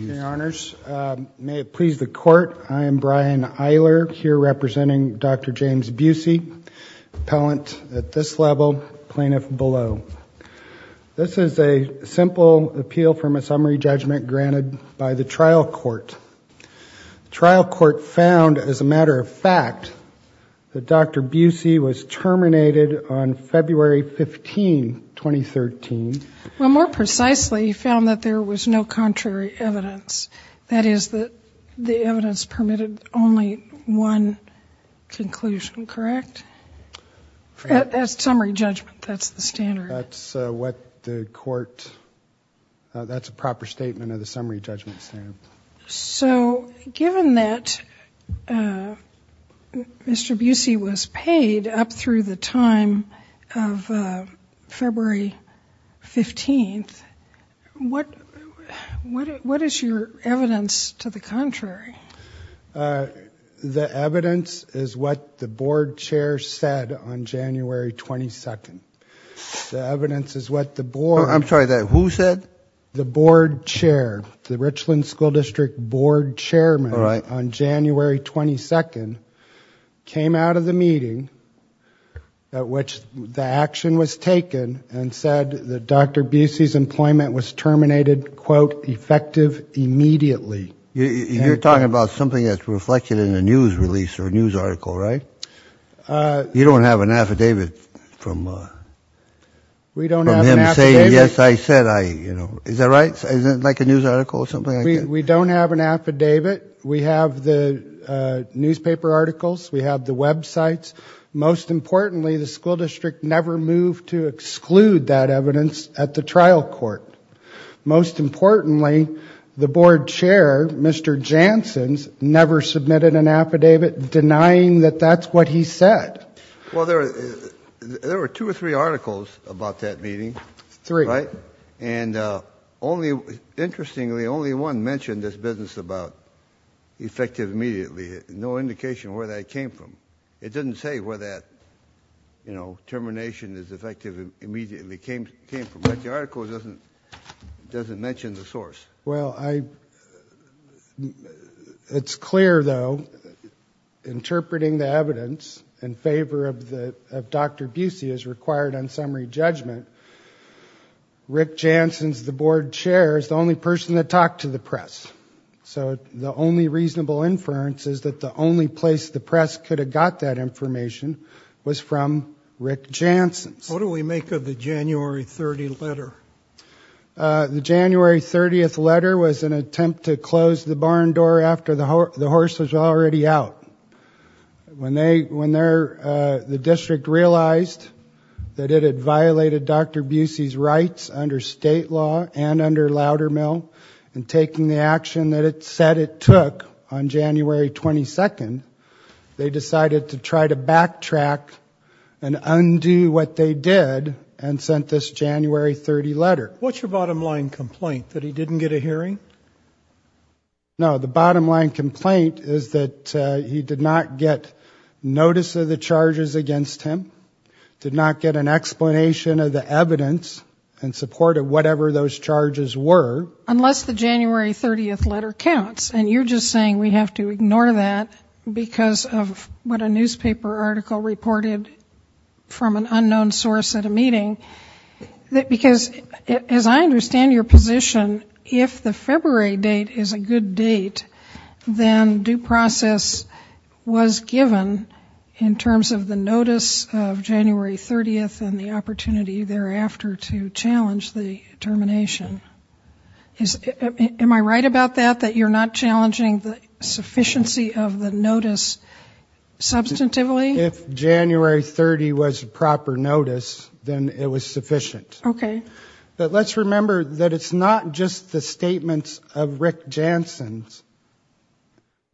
Your Honors, may it please the court, I am Brian Eiler here representing Dr. James Busey, appellant at this level, plaintiff below. This is a simple appeal from a summary judgment granted by the trial court. Trial court found, as a matter of fact, that Dr. Busey was terminated on February 15, 2013. Well more precisely, he was no contrary evidence. That is, that the evidence permitted only one conclusion, correct? That's summary judgment, that's the standard. That's what the court, that's a proper statement of the summary judgment standard. So given that Mr. Busey was what is your evidence to the contrary? The evidence is what the board chair said on January 22nd. The evidence is what the board... I'm sorry, who said? The board chair, the Richland School District board chairman on January 22nd came out of the meeting at which the action was taken and said that Dr. Busey's terminated, quote, effective immediately. You're talking about something that's reflected in a news release or a news article, right? You don't have an affidavit from... We don't have an affidavit. Yes, I said I, you know, is that right? Like a news article or something? We don't have an affidavit. We have the newspaper articles, we have the websites. Most importantly, the school district never moved to exclude that evidence at the trial court. Most importantly, the board chair, Mr. Janssen's, never submitted an affidavit denying that that's what he said. Well, there were two or three articles about that meeting. Three. Right? And only, interestingly, only one mentioned this business about effective immediately. No indication where that came from. It didn't say where that, you know, information is effective immediately came from. But the article doesn't mention the source. Well, it's clear though, interpreting the evidence in favor of Dr. Busey is required on summary judgment. Rick Janssen's, the board chair, is the only person that talked to the press. So the only reasonable inference is that the only place the press could have got that What do we make of the January 30 letter? The January 30th letter was an attempt to close the barn door after the horse was already out. When they, when they're, the district realized that it had violated Dr. Busey's rights under state law and under Loudermill and taking the action that it said it took on January 22nd, they decided to try to backtrack and undo what they did and sent this January 30 letter. What's your bottom line complaint? That he didn't get a hearing? No, the bottom line complaint is that he did not get notice of the charges against him, did not get an explanation of the evidence in support of whatever those charges were. Unless the January 30th letter counts and you're just saying we have to ignore that because of what a newspaper article reported from an unknown source at a meeting. Because as I understand your position, if the February date is a good date, then due process was given in terms of the notice of January 30th and the opportunity thereafter to challenge the sufficiency of the notice substantively? If January 30th was a proper notice, then it was sufficient. Okay. But let's remember that it's not just the statements of Rick Janssen,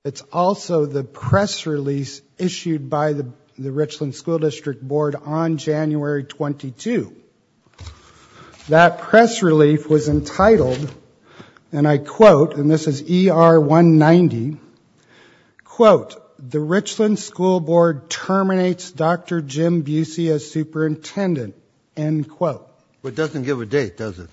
it's also the press release issued by the Richland School District Board on January 22. That press relief was entitled and I quote, and this is ER 190, quote, the Richland School Board terminates Dr. Jim Busey as superintendent, end quote. It doesn't give a date, does it?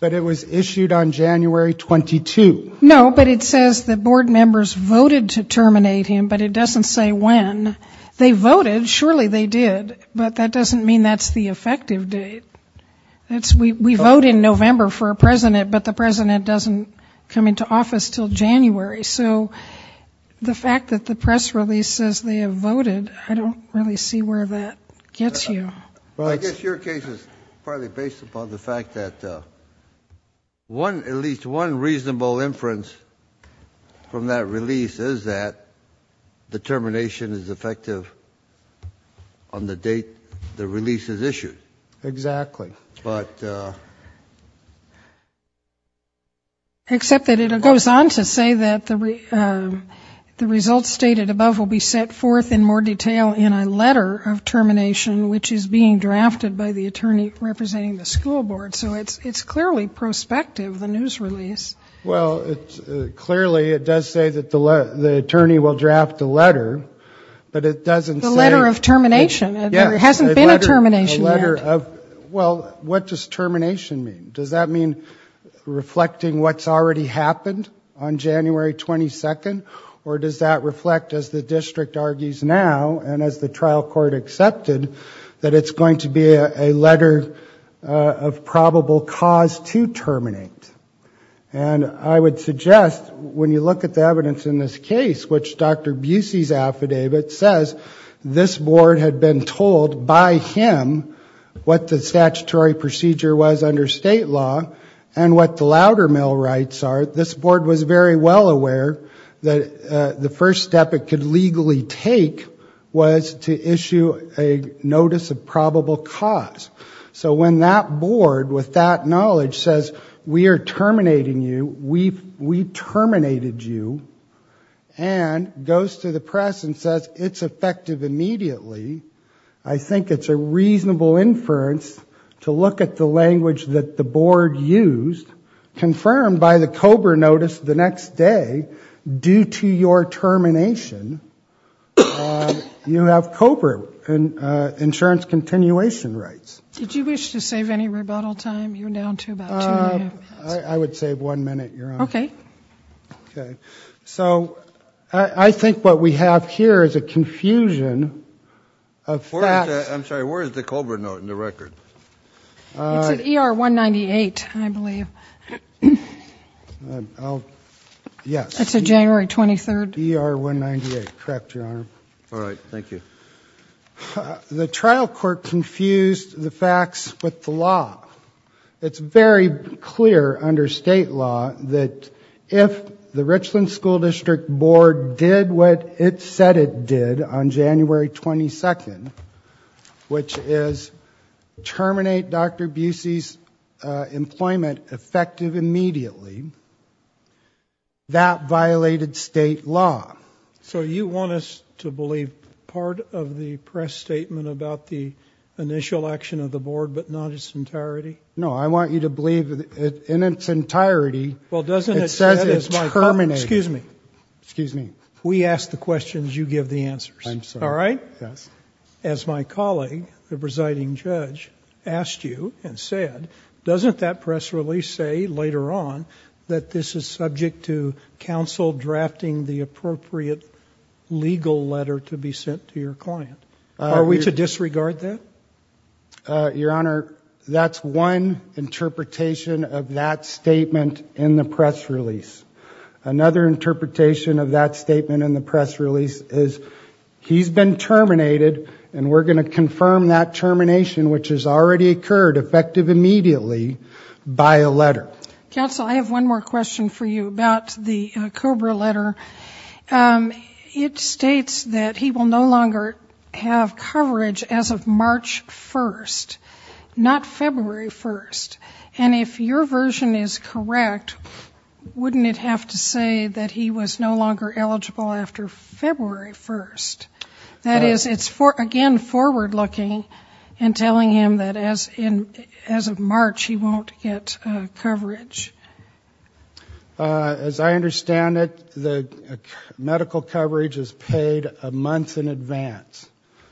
But it was issued on January 22. No, but it says the board members voted to terminate him, but it doesn't say when. They voted, surely they did, but that doesn't mean that's the president doesn't come into office until January. So the fact that the press release says they have voted, I don't really see where that gets you. I guess your case is partly based upon the fact that one, at least one reasonable inference from that release is that the termination is effective on the date the release is issued. Exactly. Except that it goes on to say that the results stated above will be set forth in more detail in a letter of termination which is being drafted by the attorney representing the school board. So it's clearly prospective, the news release. Well, clearly it does say that the attorney will draft a letter, but it doesn't say... The letter of termination. There hasn't been a termination yet. Well, what does termination mean? Does that mean reflecting what's already happened on January 22nd? Or does that reflect, as the district argues now, and as the trial court accepted, that it's going to be a letter of probable cause to terminate? And I would suggest when you look at the evidence in this case, which Dr. Busey's affidavit says this board had been told by him to terminate him. What the statutory procedure was under state law, and what the louder mail rights are, this board was very well aware that the first step it could legally take was to issue a notice of probable cause. So when that board, with that knowledge, says we are terminating you, we terminated you, and goes to the press and says it's effective immediately, I think it's a reasonable inference to look at the language that the board used, confirmed by the COBRA notice the next day, due to your termination, you have COBRA insurance continuation rights. So I think what we have here is a confusion of facts. I'm sorry, where is the COBRA note in the record? It's at ER 198, I believe. It's at January 23rd. All right, thank you. The trial court confused the facts with the law. It's very clear under state law that if the Richland School District Board did what it said it did on January 22, which is terminate Dr. Busey's employment effective immediately, that violated state law. So you want us to believe part of the press statement about the initial action of the board, but not its entirety? No, I want you to believe in its entirety, it says it's terminated. Excuse me, we ask the questions, you give the answers, all right? As my colleague, the presiding judge, asked you and said, doesn't that press release say later on that this is subject to counsel drafting the appropriate legal letter to be sent to your client? Are we to disregard that? Your Honor, that's one interpretation of that statement in the press release. Another interpretation of that statement in the press release is he's been terminated, and we're going to confirm that termination, which has already occurred, effective immediately, by a letter. Counsel, I have one more question for you about the COBRA letter. It states that he will no longer have coverage as of March 1st, not February 1st. And if your version is correct, wouldn't it have to say that he was no longer eligible after February 1st? That is, it's again forward-looking in telling him that as of March, he won't get coverage. As I understand it, the medical coverage is paid a month in advance.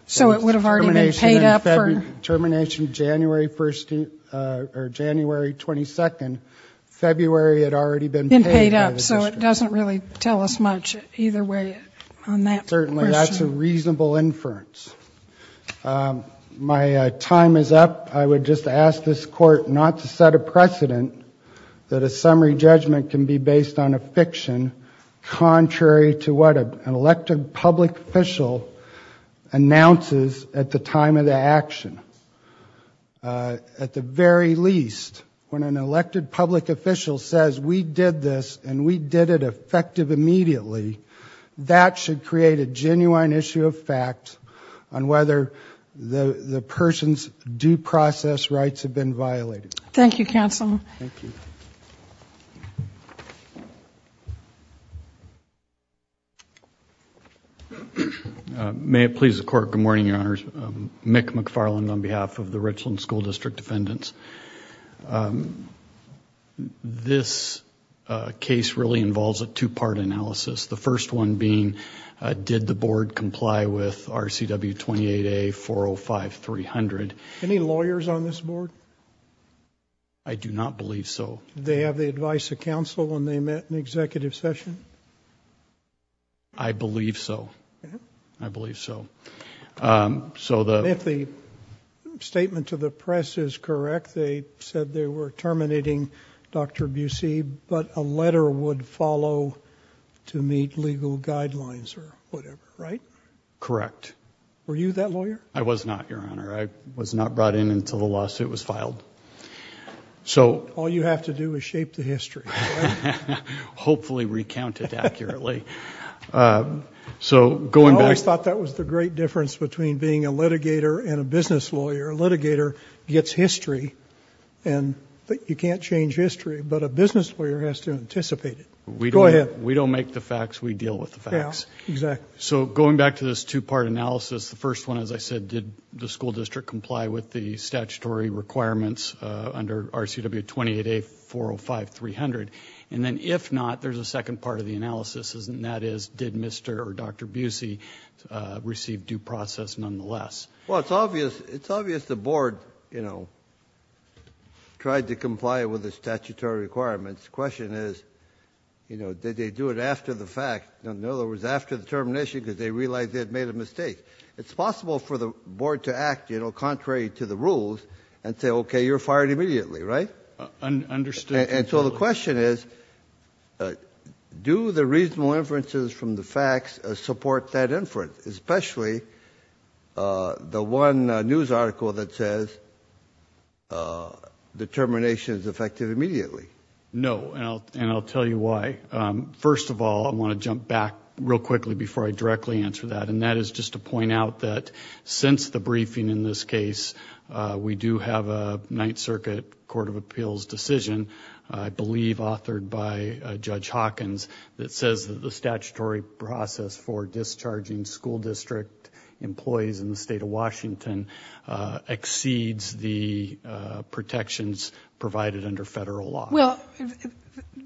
So it would have already been paid up for? Termination January 1st, or January 22nd, February had already been paid by the district. Been paid up, so it doesn't really tell us much either way on that question. Certainly, that's a reasonable inference. My time is up. I would just ask this Court not to set a precedent that a summary judgment can be based on a fiction contrary to what an elected public official announces at the time of the action. At the very least, when an elected public official says we did this, and we did it effective immediately, that should create a genuine issue of fact, on whether the person's due process rights have been violated. Thank you, Counsel. May it please the Court, good morning, Your Honors. Mick McFarland on behalf of the Richland School District Defendants. This case really involves a two-part analysis. The first one being, did the Board comply with RCW 28A 405-300? Any lawyers on this Board? I do not believe so. Did they have the advice of counsel when they met in Executive Session? I believe so. If the statement to the press is correct, they said they were terminating Dr. Busey, but a letter would follow to meet legal guidelines or whatever, right? Correct. Were you that lawyer? I was not, Your Honor. I was not brought in until the lawsuit was filed. All you have to do is shape the history. I always thought that was the great difference between being a litigator and a business lawyer. A litigator gets history, but you can't change history. A business lawyer has to anticipate it. We don't make the facts, we deal with the facts. Going back to this two-part analysis, the first one, as I said, did the School District comply with the statutory requirements under RCW 28A 405-300? If not, there's a second part of the analysis. That is, did Mr. or Dr. Busey receive due process nonetheless? It's obvious the Board tried to comply with the statutory requirements. The question is, did they do it after the fact? In other words, after the termination because they realized they had made a mistake. It's possible for the Board to act contrary to the rules and say, okay, you're fired immediately, right? So the question is, do the reasonable inferences from the facts support that inference? Especially the one news article that says the termination is effective immediately. No, and I'll tell you why. First of all, I want to jump back real quickly before I directly answer that, and that is just to point out that since the briefing in this case, we do have a Ninth Circuit Court of Appeals decision, I believe authored by Judge Hawkins, that says that the statutory process for discharging school district employees in the state of Washington exceeds the protections provided under federal law. Well,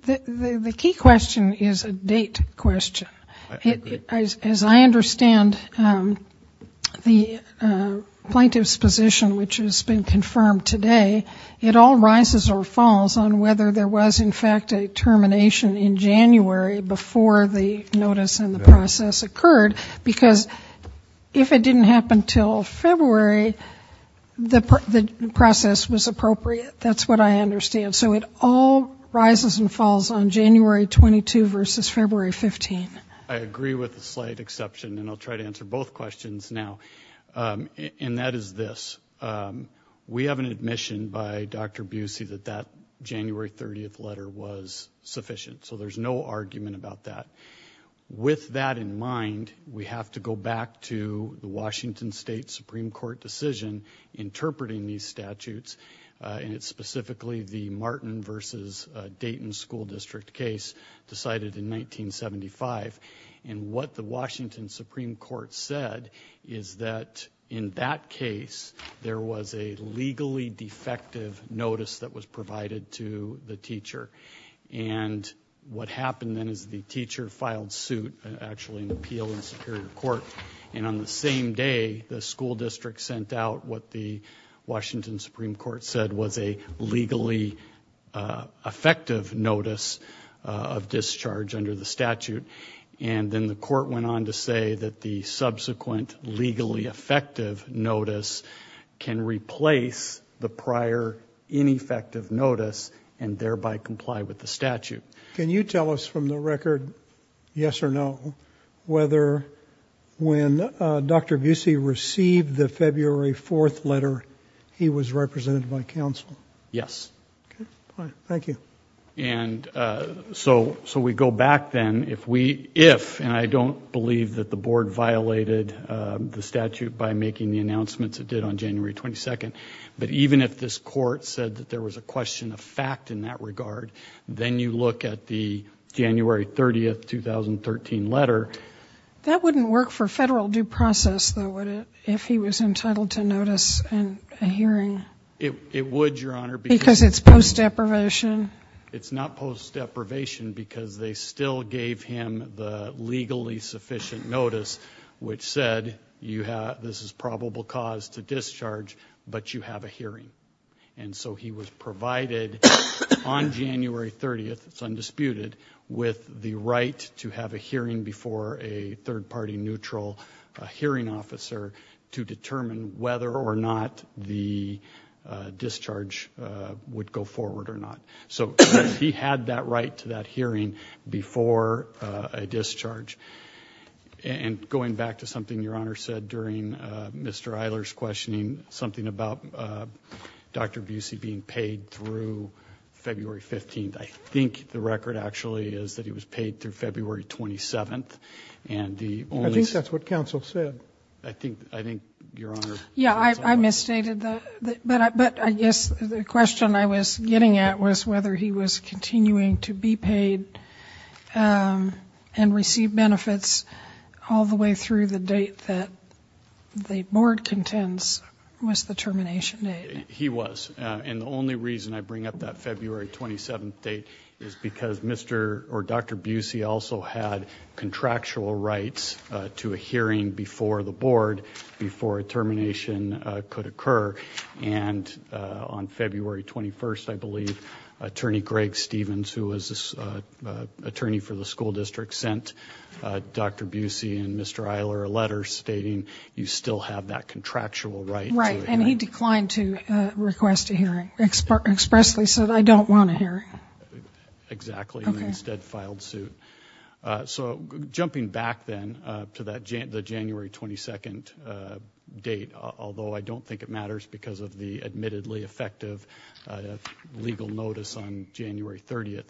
the key question is a date question. As I understand the plaintiff's position, which has been confirmed today, it all rises or falls on whether there was in fact a termination in January before the notice and the process occurred, because if it didn't happen until February, the process was appropriate. That's what I understand. So it all rises and falls on January 22 versus February 15. I agree with the slight exception, and I'll try to answer both questions now, and that is this. We have an admission by Dr. Busey that that January 30th letter was sufficient, so there's no argument about that. With that in mind, we have to go back to the Washington State Supreme Court decision interpreting these statutes, and it's specifically the Martin versus Dayton school district case decided in 1975, and what the Washington Supreme Court said is that in that case there was a legally defective notice that was provided to the teacher. And what happened then is the teacher filed suit, actually an appeal in Superior Court, and on the same day the school district sent out what the Washington Supreme Court said was a legally effective notice of discharge under the statute, and then the court went on to say that the subsequent legally effective notice can replace the prior ineffective notice and thereby comply with the statute. Can you tell us from the record, yes or no, whether when Dr. Busey received the February 4th letter he was represented by counsel? Yes. Okay, fine, thank you. And so we go back then, if, and I don't believe that the board violated the statute by making the announcements it did on January 22nd, but even if this court said that there was a question of fact in that regard, then you look at the January 30th, 2013 letter. That wouldn't work for federal due process, though, would it, if he was entitled to notice and a hearing? It's post-deprivation? It's not post-deprivation because they still gave him the legally sufficient notice, which said this is probable cause to discharge, but you have a hearing. And so he was provided on January 30th, it's undisputed, with the right to have a hearing before a third-party neutral hearing officer to determine whether or not the discharge would comply with the statute. So he had that right to that hearing before a discharge. And going back to something Your Honor said during Mr. Eiler's questioning, something about Dr. Busey being paid through February 15th, I think the record actually is that he was paid through February 27th. I think that's what counsel said. I think Your Honor... Yeah, I misstated that, but I guess the question I was getting at was whether he was continuing to be paid and receive benefits all the way through the date that the board contends was the termination date. He was. And the only reason I bring up that February 27th date is because Mr. or Dr. Busey also had contractual rights to a hearing before the board, before a termination could occur. And on February 21st, I believe, Attorney Greg Stephens, who was attorney for the school district, sent Dr. Busey and Mr. Eiler a letter stating you still have that contractual right. And he declined to request a hearing, expressly said, I don't want a hearing. Exactly, and instead filed suit. So jumping back then to that January 22nd date, although I don't think it matters because of the admittedly effective legal notice on January 30th,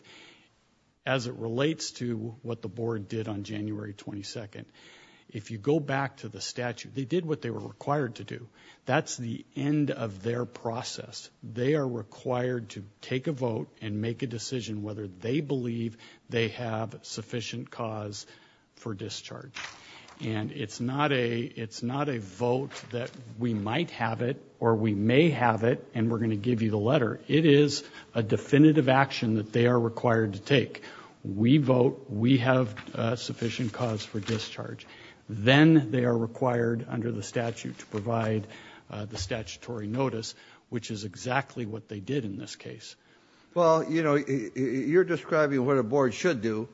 as it relates to what the board did on January 22nd, if you go back to the statute, they did what they were required to do. That's the end of their process. They are required to take a vote and make a decision whether they believe they have sufficient cause for discharge. And it's not a vote that we might have it or we may have it and we're going to give you the letter. It is a definitive action that they are required to take. And if they do not believe they have sufficient cause for discharge, then they are required under the statute to provide the statutory notice, which is exactly what they did in this case. Well, you know, you're describing what a board should do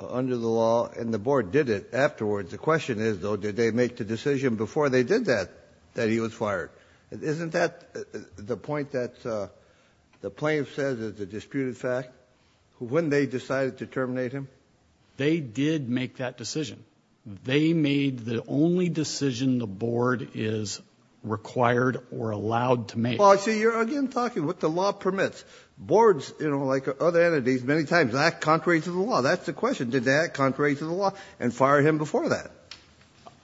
under the law and the board did it afterwards. The question is, though, did they make the decision before they did that that he was fired? Isn't that the point that the plaintiff says is a disputed fact? When they decided to terminate him, they did make that decision. They made the only decision the board is required or allowed to make. Well, I see you're again talking what the law permits. Boards, you know, like other entities, many times act contrary to the law. That's the question. Did they make the decision to that contrary to the law and fire him before that?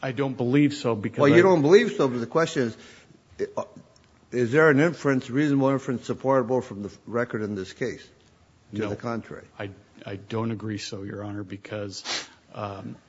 I don't believe so. Well, you don't believe so. But the question is, is there an inference, reasonable inference, supportable from the record in this case? No, I don't agree. So your honor, because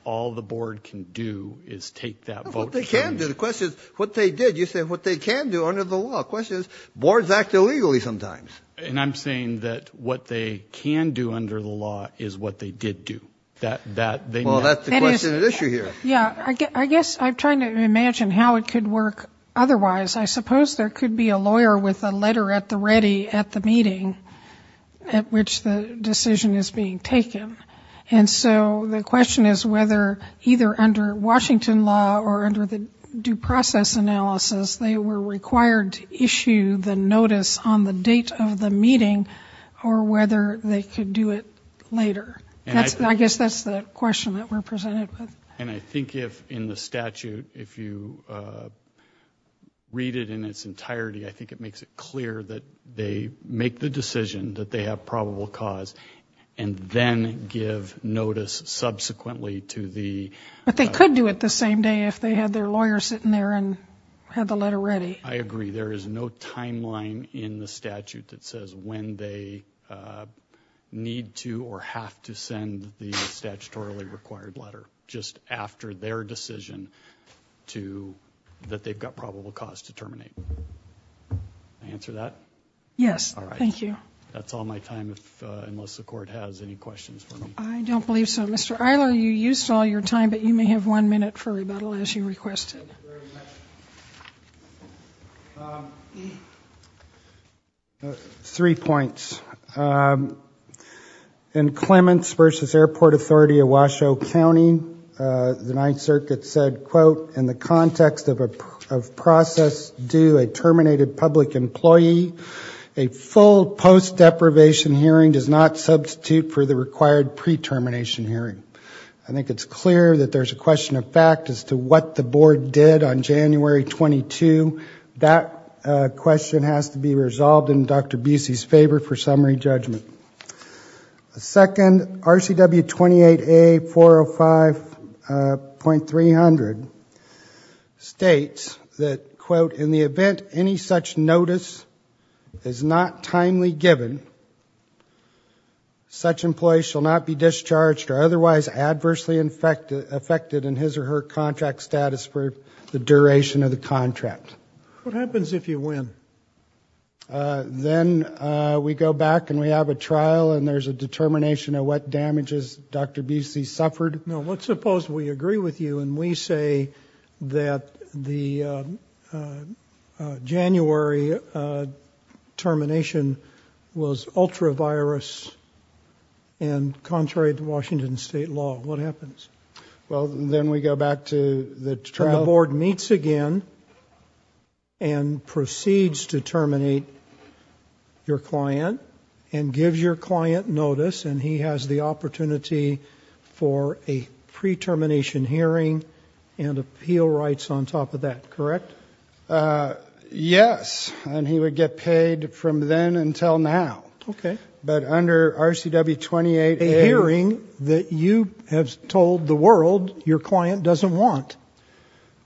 all the board can do is take that vote. They can do the questions. What they did. You said what they can do under the law. Questions. Boards act illegally sometimes. And I'm saying that what they can do under the law is what they did do that. Well, that's the question. Yeah, I guess I'm trying to imagine how it could work otherwise. I suppose there could be a lawyer with a letter at the ready at the meeting at which the decision is being taken. And so the question is whether either under Washington law or under the due process analysis, they were required to issue the notice on the date of the meeting or whether they could do it later. I guess that's the question that we're presented with. And I think if in the statute, if you read it in its entirety, I think it makes it clear that they make the decision that they have probable cause and then give notice subsequently to the. But they could do it the same day if they had their lawyer sitting there and had the letter ready. I agree there is no timeline in the statute that says when they need to or have to send the statutorily required letter just after their decision to that they've got probable cause to terminate. Answer that. Yes. Thank you. That's all my time. Unless the court has any questions. I don't believe so. Mr. I know you used all your time, but you may have one minute for rebuttal as you requested. I think it's clear that there's a question of fact as to what the board did on January 22. That question has to be resolved in Dr. Busey's favor for summary judgment. Second, RCW 28A 405.300 states that, quote, in the event any such notice is not timely given, such employees shall not be discharged or otherwise adversely affected in his or her contract status for the duration of the contract. What happens if you win? Then we go back and we have a trial and there's a determination of what damages Dr. Busey suffered. No, let's suppose we agree with you and we say that the January termination was ultra virus and contrary to Washington state law. What happens? Well, then we go back to the board meets again and proceeds to terminate your client and gives your client notice. And he has the opportunity for a pre termination hearing and appeal rights on top of that, correct? Yes. And he would get paid from then until now. But under RCW 28 hearing that you have told the world your client doesn't want.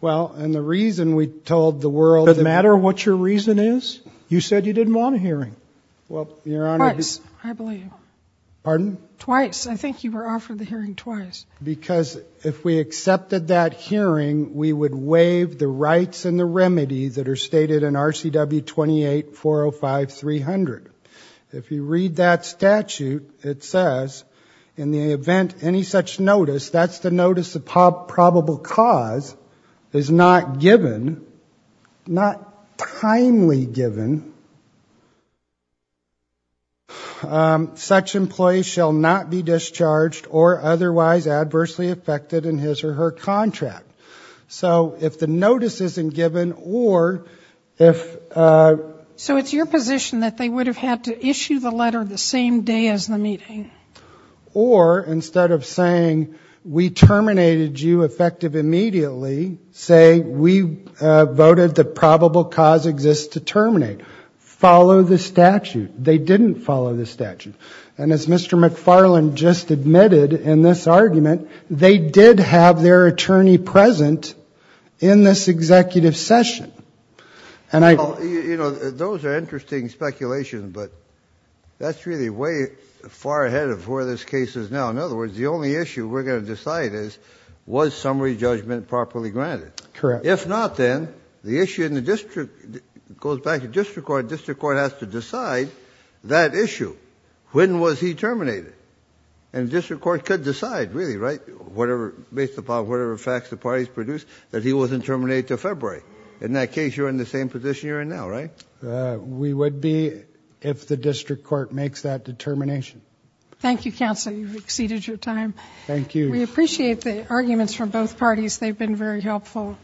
Well, and the reason we told the world that matter what your reason is, you said you didn't want a hearing. Well, your Honor, I believe twice. I think you were offered the hearing twice because if we accepted that hearing, we would waive the rights and the remedy that are stated in RCW 28 405 300. If you read that statute, it says in the event any such notice, that's the notice of probable cause is not given, not timely given, such employees shall not be discharged or otherwise adversely affected in his or her contract. So if the notice isn't given or if... So it's your position that they would have had to issue the letter the same day as the meeting. Or instead of saying we terminated you effective immediately, say we voted the probable cause exists to terminate. Follow the statute. They didn't follow the statute. And as Mr. McFarland just admitted in this argument, they did have their attorney present in this executive session. And I... Well, you know, those are interesting speculations, but that's really way far ahead of where this case is now. In other words, the only issue we're going to decide is was summary judgment properly granted. Correct. If not, then the issue in the district goes back to district court. District court has to decide that issue. When was he terminated? And district court could decide, really, right? Whatever, based upon whatever facts the parties produced, that he wasn't terminated until February. In that case, you're in the same position you're in now, right? We would be if the district court makes that determination. Thank you, counsel. You've exceeded your time. Thank you. We appreciate the arguments from both parties. They've been very helpful.